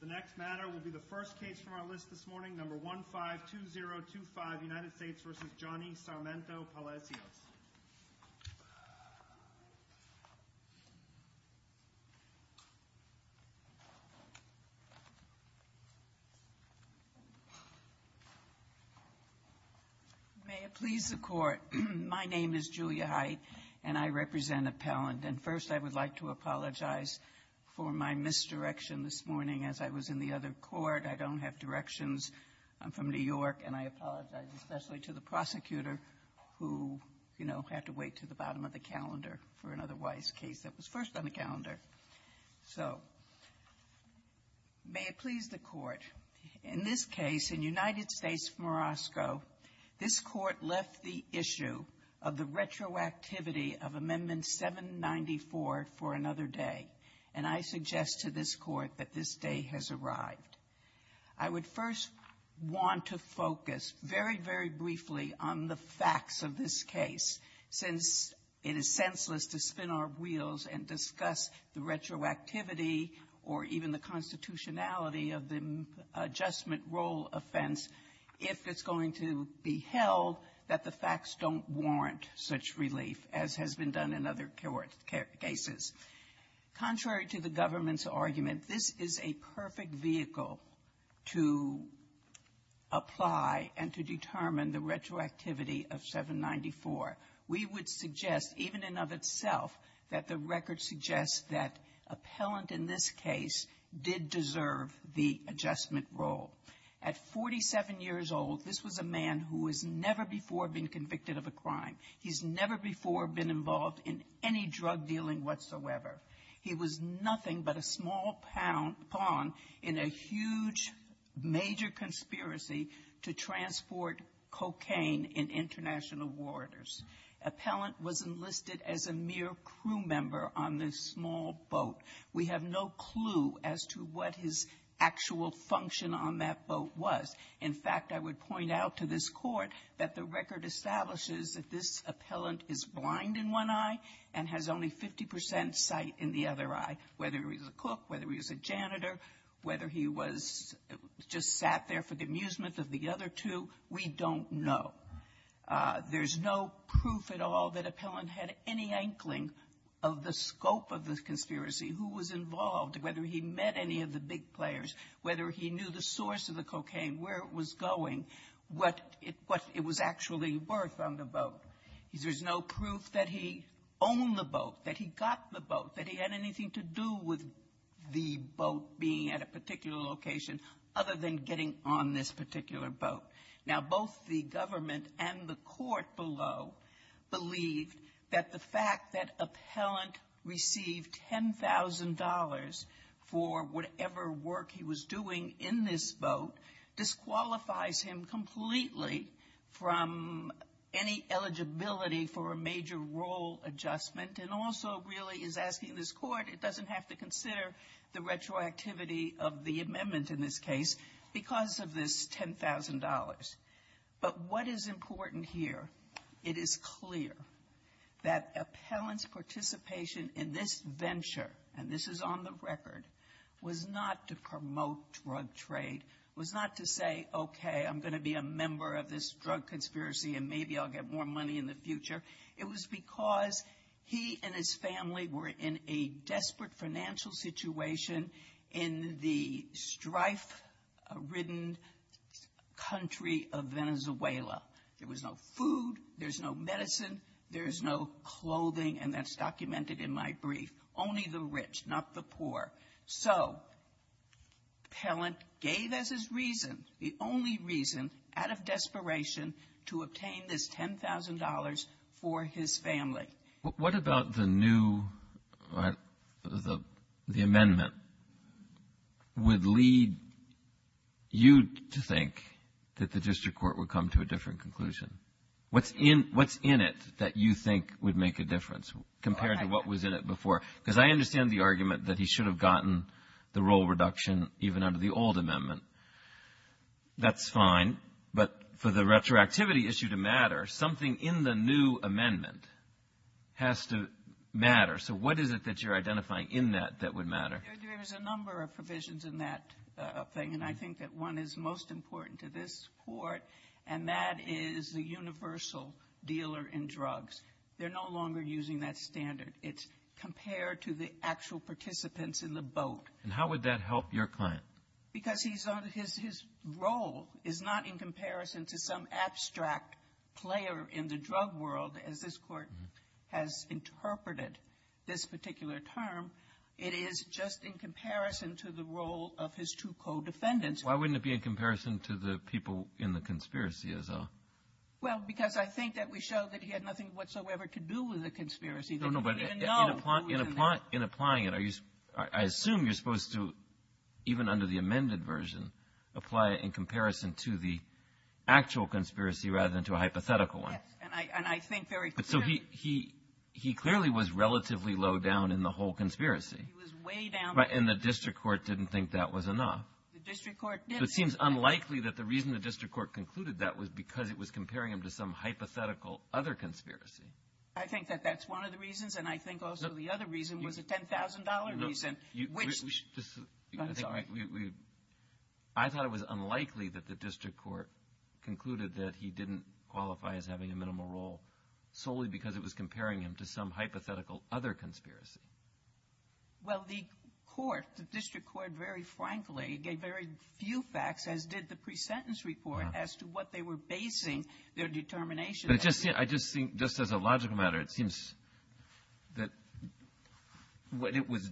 The next matter will be the first case from our list this morning, No. 152025 United States v. Johnny Sarmiento-Palacios. May it please the Court, my name is Julia Height and I represent New York. I'd like to apologize for my misdirection this morning as I was in the other court. I don't have directions. I'm from New York, and I apologize, especially to the prosecutor who, you know, had to wait to the bottom of the calendar for an otherwise case that was first on the calendar. So may it please the Court, in this case, in United States v. Morosco, this Court left the issue of the retroactivity of Amendment 794 for another day, and I suggest to this Court that this day has arrived. I would first want to focus very, very briefly on the facts of this case, since it is senseless to spin our wheels and discuss the retroactivity or even the constitutionality of the adjustment rule offense if it's going to be held that the facts don't warrant such relief, as has been done in other cases. Contrary to the government's argument, this is a perfect vehicle to apply and to determine the retroactivity of 794. We would suggest, even in and of itself, that the record suggests that appellant in this case did deserve the adjustment rule. At 47 years old, this was a man who has never before been convicted of a crime. He's never before been involved in any drug dealing whatsoever. He was nothing but a small pound pond in a huge, major conspiracy to transport cocaine in international waters. Appellant was enlisted as a mere crew member on this small boat. We have no clue as to what his actual function on that boat was. In fact, I would point out to this Court that the record establishes that this appellant is blind in one eye and has only 50 percent sight in the other eye, whether he was a cook, whether he was a janitor, whether he was just sat there for the amusement of the other two. We don't know. There's no proof at all that appellant had any inkling of the scope of the conspiracy, who was involved, whether he met any of the big players, whether he knew the source of the cocaine, where it was going, what it was actually worth on the boat. There's no proof that he owned the boat, that he got the boat, that he had anything to do with the boat being at a particular location other than getting on this particular boat. Now, both the government and the Court below believed that the fact that this Court doesn't have to consider the retroactivity of the amendment in this case because of this $10,000. But what is important here, it is clear that appellant's participation in this venture, and this is on the record, was not part of the to promote drug trade, was not to say, okay, I'm going to be a member of this drug conspiracy, and maybe I'll get more money in the future. It was because he and his family were in a desperate financial situation in the strife-ridden country of Venezuela. There was no food, there's no medicine, there's no clothing, and that's reason, the only reason, out of desperation, to obtain this $10,000 for his family. Breyer. What about the new, the amendment, would lead you to think that the district court would come to a different conclusion? What's in it that you think would make a difference compared to what was in it before? Because I understand the argument that he should have gotten the role reduction even under the old amendment. That's fine. But for the retroactivity issue to matter, something in the new amendment has to matter. So what is it that you're identifying in that that would matter? There's a number of provisions in that thing, and I think that one is most important to this Court, and that is the universal dealer in drugs. They're no longer using that standard. It's compared to the actual participants in the boat. And how would that help your client? Because his role is not in comparison to some abstract player in the drug world, as this Court has interpreted this particular term. It is just in comparison to the role of his two co-defendants. Why wouldn't it be in comparison to the people in the conspiracy, as well? Well, because I think that we show that he had nothing whatsoever to do with the conspiracy. No, no, but in applying it, are you – I assume you're supposed to, even under the amended version, apply it in comparison to the actual conspiracy rather than to a hypothetical one. Yes. And I think very clearly he was way down in the whole conspiracy. The District Court didn't think that was enough. The District Court didn't. So it seems unlikely that the reason the District Court concluded that was because it was comparing him to some hypothetical other conspiracy. I think that that's one of the reasons, and I think also the other reason was a $10,000 reason, which – No, no. I thought it was unlikely that the District Court concluded that he didn't qualify as having a minimal role solely because it was comparing him to some hypothetical other conspiracy. Well, the court, the District Court, very frankly, gave very few facts, as did the pre-sentence report, as to what they were basing their determination on. I just think, just as a logical matter, it seems that what it was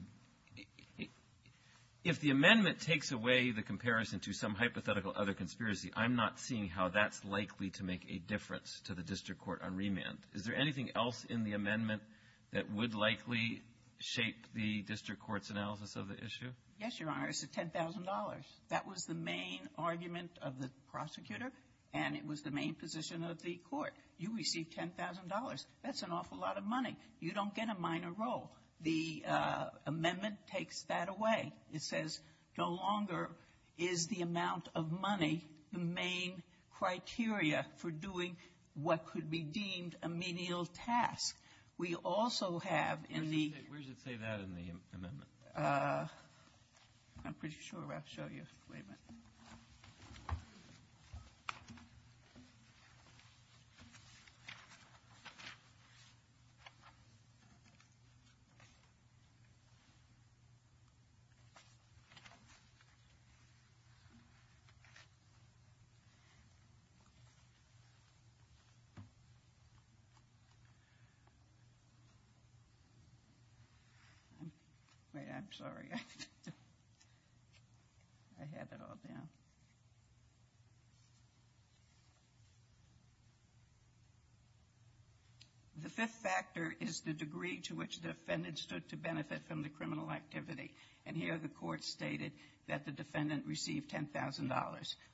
– if the amendment takes away the comparison to some hypothetical other conspiracy, I'm not seeing how that's likely to make a difference to the District Court on remand. Is there anything else in the amendment that would likely shape the District Court's analysis of the issue? Yes, Your Honor. It's the $10,000. That was the main argument of the prosecutor, and it was the main position of the court. You receive $10,000. That's an awful lot of money. You don't get a minor role. The amendment takes that away. It says no longer is the amount of money the main criteria for doing what could be deemed a menial task. We also have in the – Where does it say that in the amendment? I'm pretty sure I'll show you. Wait a minute. Wait, I'm sorry. I have it all down. The fifth factor is the degree to which the defendant stood to benefit from the criminal activity. And here the Court stated that the defendant received $10,000.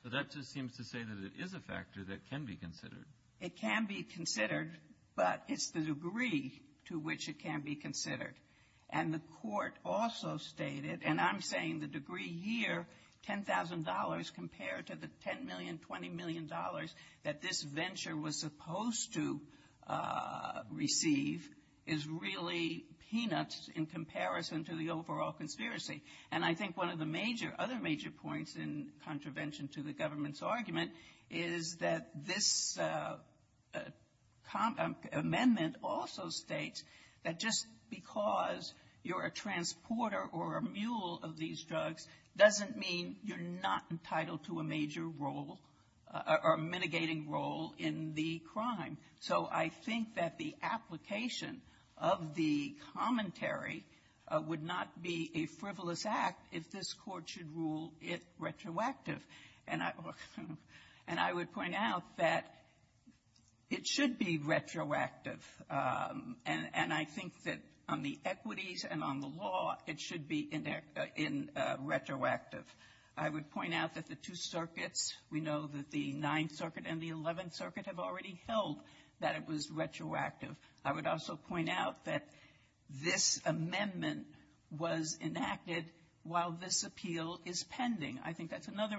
But that just seems to say that it is a factor that can be considered. It can be considered, but it's the degree to which it can be considered. And the Court also stated, and I'm saying the degree here, $10,000, compared to the $10 million, $20 million that this venture was supposed to receive, is really peanuts in comparison to the overall conspiracy. And I think one of the major – other major points in contravention to the government's amendment also states that just because you're a transporter or a mule of these drugs doesn't mean you're not entitled to a major role or mitigating role in the crime. So I think that the application of the commentary would not be a frivolous act if this Court should rule it retroactive. And I would point out that it should be retroactive. And I think that on the equities and on the law, it should be in retroactive. I would point out that the two circuits, we know that the Ninth Circuit and the Eleventh Circuit have already held that it was retroactive. I would also point out that this is another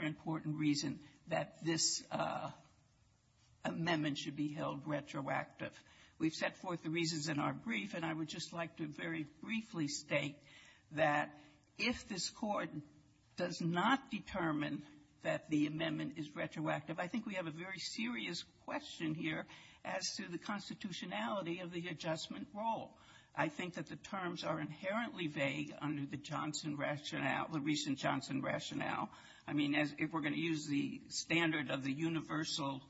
important reason that this amendment should be held retroactive. We've set forth the reasons in our brief, and I would just like to very briefly state that if this Court does not determine that the amendment is retroactive, I think we have a very serious question here as to the constitutionality of the adjustment role. I think that the terms are inherently vague under the Johnson rationale. I mean, as if we're going to use the standard of the universal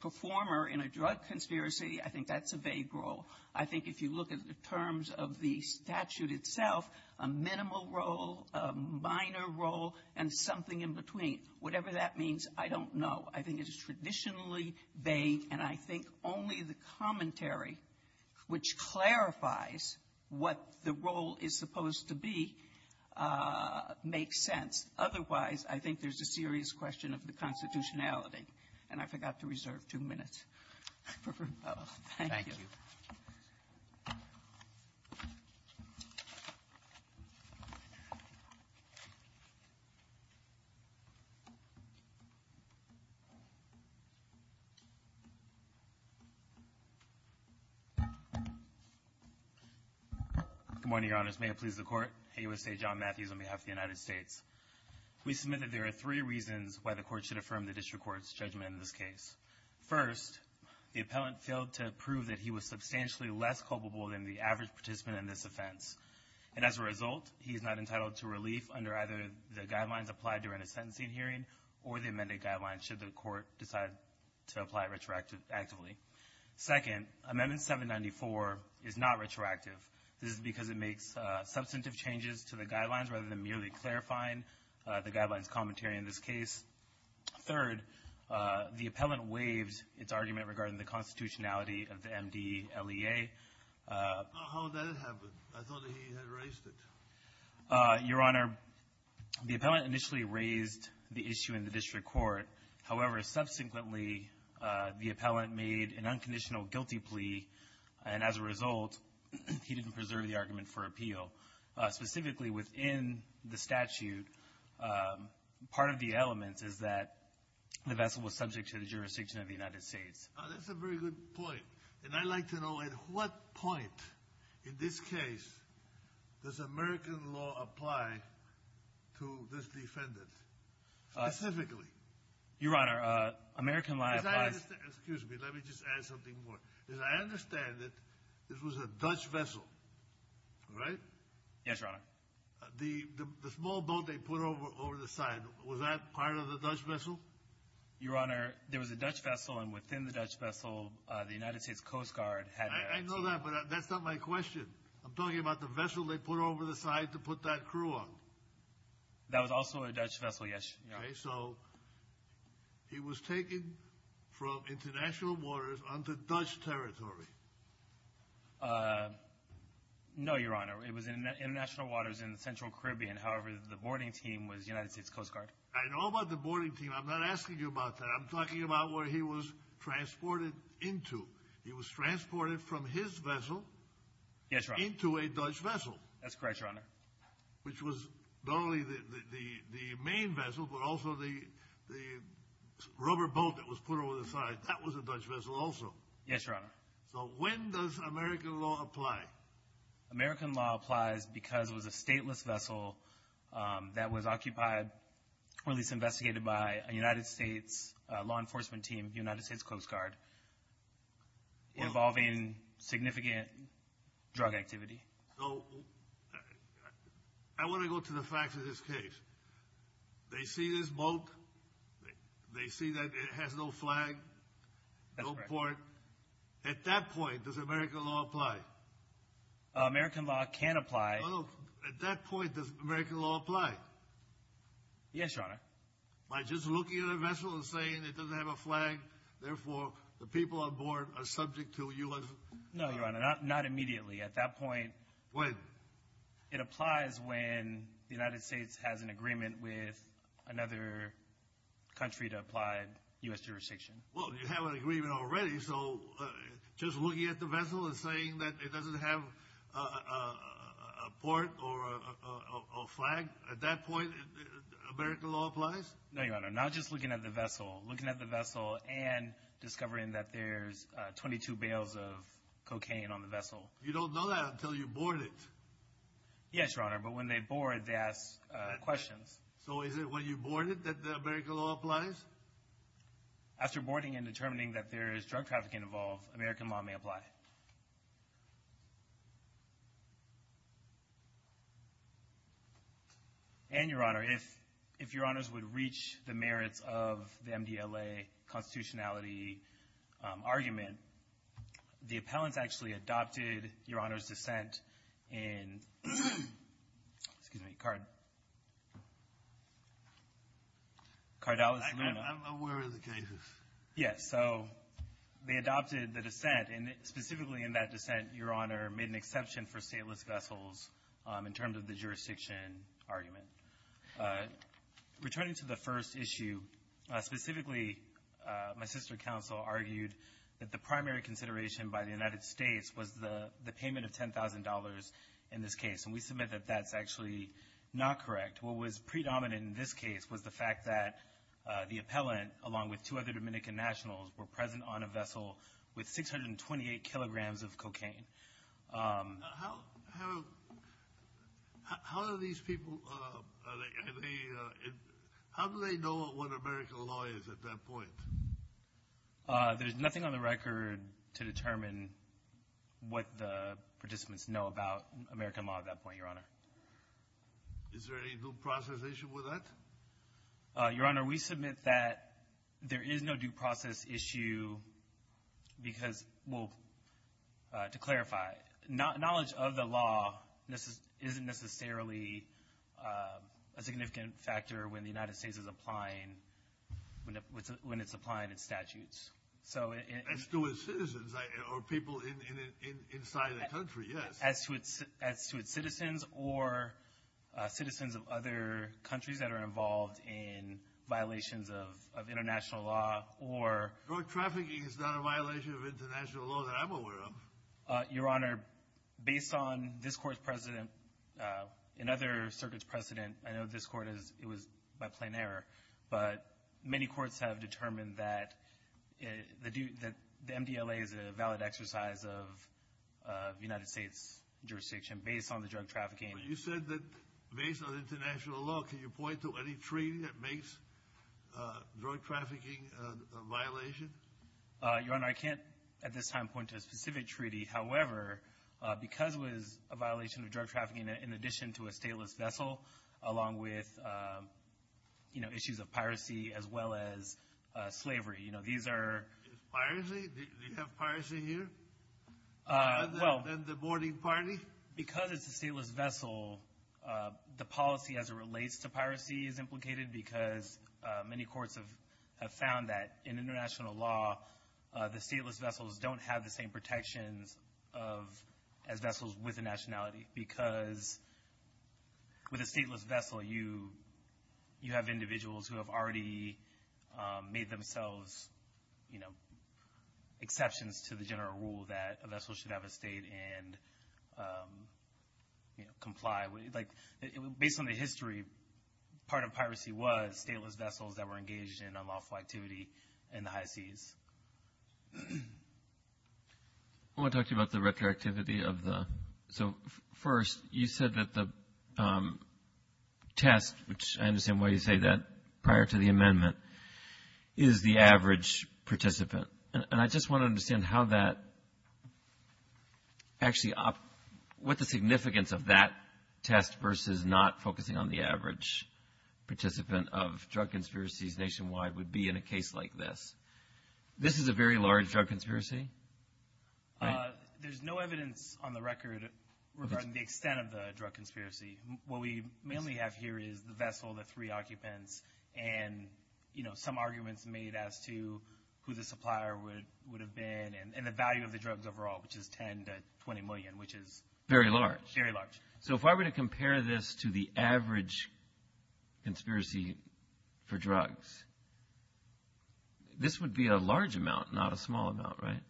performer in a drug conspiracy, I think that's a vague role. I think if you look at the terms of the statute itself, a minimal role, a minor role, and something in between, whatever that means, I don't know. I think it's traditionally vague, and I think only the commentary which clarifies what the role is supposed to be makes sense. Otherwise, I think there's a serious question of the constitutionality. And I forgot to reserve two minutes for both. Thank you. Good morning, Your Honors. May it please the Court. Haywood State, John Matthews, on behalf of the United States. We submit that there are three reasons why the Court should affirm the district court's judgment in this case. First, the appellant failed to prove that he was substantially less culpable than the average participant in this offense. And as a result, he is not entitled to relief under either the guidelines applied during a sentencing hearing or the amended guidelines should the Court decide to apply retroactively. Second, Amendment 794 is not retroactive. This is because it makes substantive changes to the guidelines rather than merely clarifying the guidelines commentary in this case. Third, the appellant waived its argument regarding the constitutionality of the MDLEA. How did that happen? I thought he had raised it. Your Honor, the appellant initially raised the issue in the district court. However, subsequently, the appellant made an unconditional guilty plea, and as a result, he didn't preserve the argument for appeal. So specifically within the statute, part of the element is that the vessel was subject to the jurisdiction of the United States. That's a very good point. And I'd like to know at what point in this case does American law apply to this defendant specifically? Your Honor, American law applies. Excuse me. Let me just add something more. As I understand it, this was a Dutch vessel, right? Yes, Your Honor. The small boat they put over the side, was that part of the Dutch vessel? Your Honor, there was a Dutch vessel, and within the Dutch vessel, the United States Coast Guard had a – I know that, but that's not my question. I'm talking about the vessel they put over the side to put that crew on. That was also a Dutch vessel, yes. Okay, so he was taken from international waters onto Dutch territory. No, Your Honor. It was in international waters in the Central Caribbean. However, the boarding team was United States Coast Guard. I know about the boarding team. I'm not asking you about that. I'm talking about where he was transported into. He was transported from his vessel into a Dutch vessel. That's correct, Your Honor. Which was not only the main vessel, but also the rubber boat that was put over the side. That was a Dutch vessel also. Yes, Your Honor. So when does American law apply? American law applies because it was a stateless vessel that was occupied or at least investigated by a United States law enforcement team, United States Coast Guard, involving significant drug activity. So I want to go to the facts of this case. They see this boat. They see that it has no flag, no port. At that point, does American law apply? American law can apply. At that point, does American law apply? Yes, Your Honor. By just looking at a vessel and saying it doesn't have a flag, therefore the people on board are subject to U.S. No, Your Honor, not immediately. At that point, it applies when the United States has an agreement with another country to apply U.S. jurisdiction. Well, you have an agreement already, so just looking at the vessel and saying that it doesn't have a port or a flag, at that point American law applies? No, Your Honor, not just looking at the vessel. Looking at the vessel and discovering that there's 22 bales of cocaine on the vessel. You don't know that until you board it. Yes, Your Honor, but when they board, they ask questions. So is it when you board it that American law applies? After boarding and determining that there is drug trafficking involved, American law may apply. And, Your Honor, if Your Honors would reach the merits of the MDLA constitutionality argument, the appellants actually adopted Your Honor's dissent in, excuse me, Cardallus Luna. I'm aware of the cases. Yes. So they adopted the dissent, and specifically in that dissent, Your Honor made an exception for stateless vessels in terms of the jurisdiction argument. Returning to the first issue, specifically my sister counsel argued that the primary consideration by the United States was the payment of $10,000 in this case. And we submit that that's actually not correct. What was predominant in this case was the fact that the appellant, along with two other Dominican nationals, How do these people, how do they know what American law is at that point? There's nothing on the record to determine what the participants know about American law at that point, Your Honor. Is there any due process issue with that? Your Honor, we submit that there is no due process issue, because, well, to clarify, knowledge of the law isn't necessarily a significant factor when the United States is applying, when it's applying its statutes. As to its citizens or people inside the country, yes. As to its citizens or citizens of other countries that are involved in violations of international law or Drug trafficking is not a violation of international law that I'm aware of. Your Honor, based on this Court's precedent and other circuits' precedent, I know this Court, it was by plain error, but many courts have determined that the MDLA is a valid exercise of United States jurisdiction based on the drug trafficking. You said that based on international law, can you point to any treaty that makes drug trafficking a violation? Your Honor, I can't at this time point to a specific treaty. However, because it was a violation of drug trafficking in addition to a stateless vessel, along with, you know, issues of piracy as well as slavery, you know, these are Piracy? Do you have piracy here? Well Than the boarding party? Because it's a stateless vessel, the policy as it relates to piracy is implicated because many courts have found that in international law, the stateless vessels don't have the same protections as vessels with a nationality. Because with a stateless vessel, you have individuals who have already made themselves, you know, comply with, like, based on the history, part of piracy was stateless vessels that were engaged in unlawful activity in the high seas. I want to talk to you about the retroactivity of the, so first, you said that the test, which I understand why you say that prior to the amendment, is the average participant. And I just want to understand how that actually, what the significance of that test versus not focusing on the average participant of drug conspiracies nationwide would be in a case like this. This is a very large drug conspiracy, right? There's no evidence on the record regarding the extent of the drug conspiracy. What we mainly have here is the vessel, the three occupants, and, you know, some arguments made as to who the supplier would have been and the value of the drugs overall, which is 10 to 20 million, which is very large. Very large. So if I were to compare this to the average conspiracy for drugs, this would be a large amount, not a small amount, right?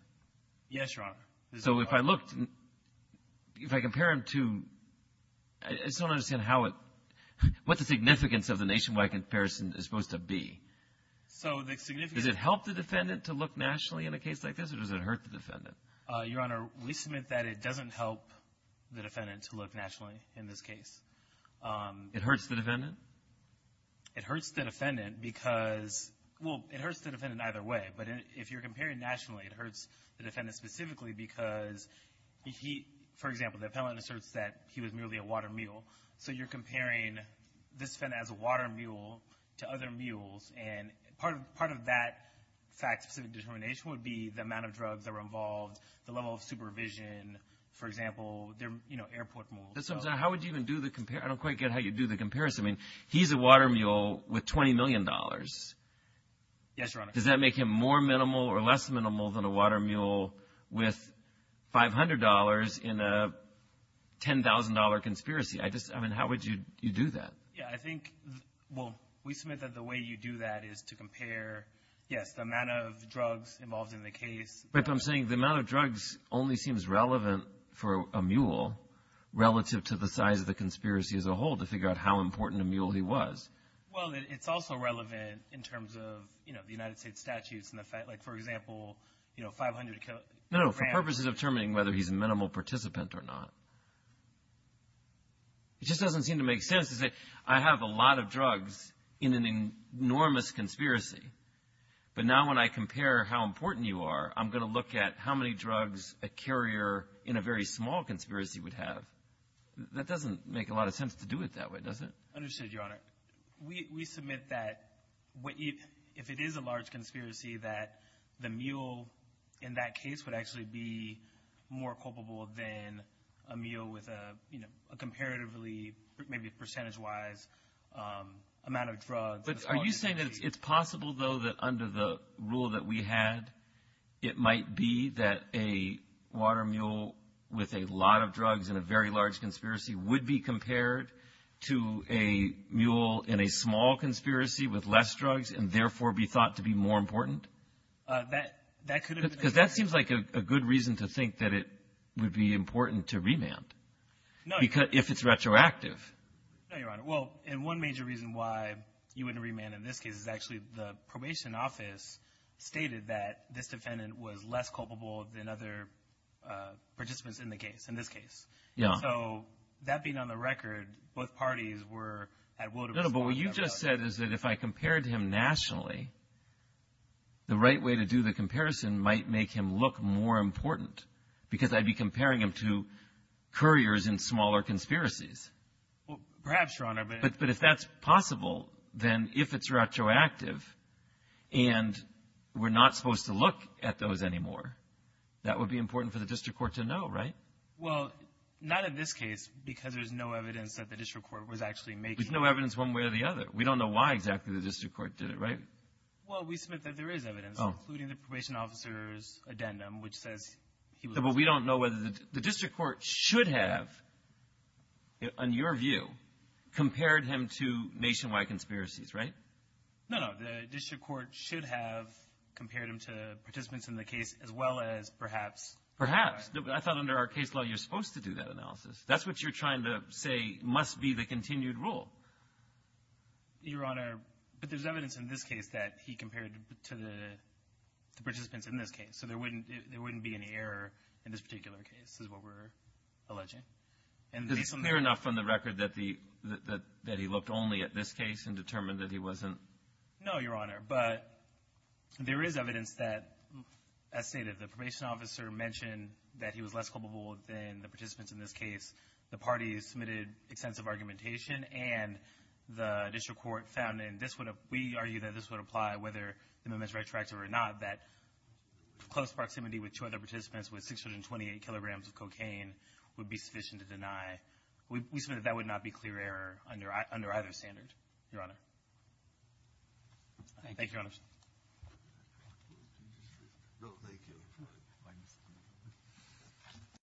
Yes, Your Honor. So if I looked, if I compare them to, I just don't understand how it, what the significance of the nationwide comparison is supposed to be. So the significance of it. Does it help the defendant to look nationally in a case like this, or does it hurt the defendant? Your Honor, we submit that it doesn't help the defendant to look nationally in this case. It hurts the defendant? It hurts the defendant because, well, it hurts the defendant either way. But if you're comparing nationally, it hurts the defendant specifically because, for example, the appellant asserts that he was merely a water mule. So you're comparing this defendant as a water mule to other mules, and part of that fact-specific determination would be the amount of drugs that were involved, the level of supervision, for example, you know, airport mules. How would you even do the comparison? I don't quite get how you'd do the comparison. I mean, he's a water mule with $20 million. Yes, Your Honor. Does that make him more minimal or less minimal than a water mule with $500 in a $10,000 conspiracy? I just, I mean, how would you do that? Yeah, I think, well, we submit that the way you do that is to compare, yes, the amount of drugs involved in the case. But I'm saying the amount of drugs only seems relevant for a mule relative to the size of the conspiracy as a whole to figure out how important a mule he was. Well, it's also relevant in terms of, you know, the United States statutes and the fact, like, for example, you know, 500 grams. No, no, for purposes of determining whether he's a minimal participant or not. It just doesn't seem to make sense to say I have a lot of drugs in an enormous conspiracy, but now when I compare how important you are, I'm going to look at how many drugs a carrier in a very small conspiracy would have. That doesn't make a lot of sense to do it that way, does it? Understood, Your Honor. We submit that if it is a large conspiracy, that the mule in that case would actually be more culpable than a mule with a, you know, a comparatively, maybe percentage-wise amount of drugs. But are you saying that it's possible, though, that under the rule that we had, it might be that a water mule with a lot of drugs in a very large conspiracy would be compared to a mule in a small conspiracy with less drugs and therefore be thought to be more important? That could have been. Because that seems like a good reason to think that it would be important to remand if it's retroactive. No, Your Honor. Well, and one major reason why you wouldn't remand in this case is actually the probation office stated that this defendant was less culpable than other participants in the case, in this case. Yeah. So that being on the record, both parties were at will to respond. No, no, but what you just said is that if I compared him nationally, the right way to do the comparison might make him look more important because I'd be comparing him to couriers in smaller conspiracies. Well, perhaps, Your Honor, but — But if that's possible, then if it's retroactive and we're not supposed to look at those anymore, that would be important for the district court to know, right? Well, not in this case because there's no evidence that the district court was actually making — There's no evidence one way or the other. We don't know why exactly the district court did it, right? Well, we submit that there is evidence, including the probation officer's addendum, which says he was — But we don't know whether the — the district court should have, on your view, compared him to nationwide conspiracies, right? No, no. The district court should have compared him to participants in the case as well as perhaps — Perhaps. I thought under our case law you're supposed to do that analysis. That's what you're trying to say must be the continued rule. Your Honor, but there's evidence in this case that he compared to the participants in this case. So there wouldn't — there wouldn't be any error in this particular case is what we're alleging. And based on the — Is it clear enough on the record that the — that he looked only at this case and determined that he wasn't — No, Your Honor, but there is evidence that, as stated, the probation officer mentioned that he was less culpable than the participants in this case. The parties submitted extensive argumentation, and the district court found, and this would — close proximity with two other participants with 628 kilograms of cocaine would be sufficient to deny. We submit that that would not be clear error under either standard, Your Honor. Thank you, Your Honor. No, thank you.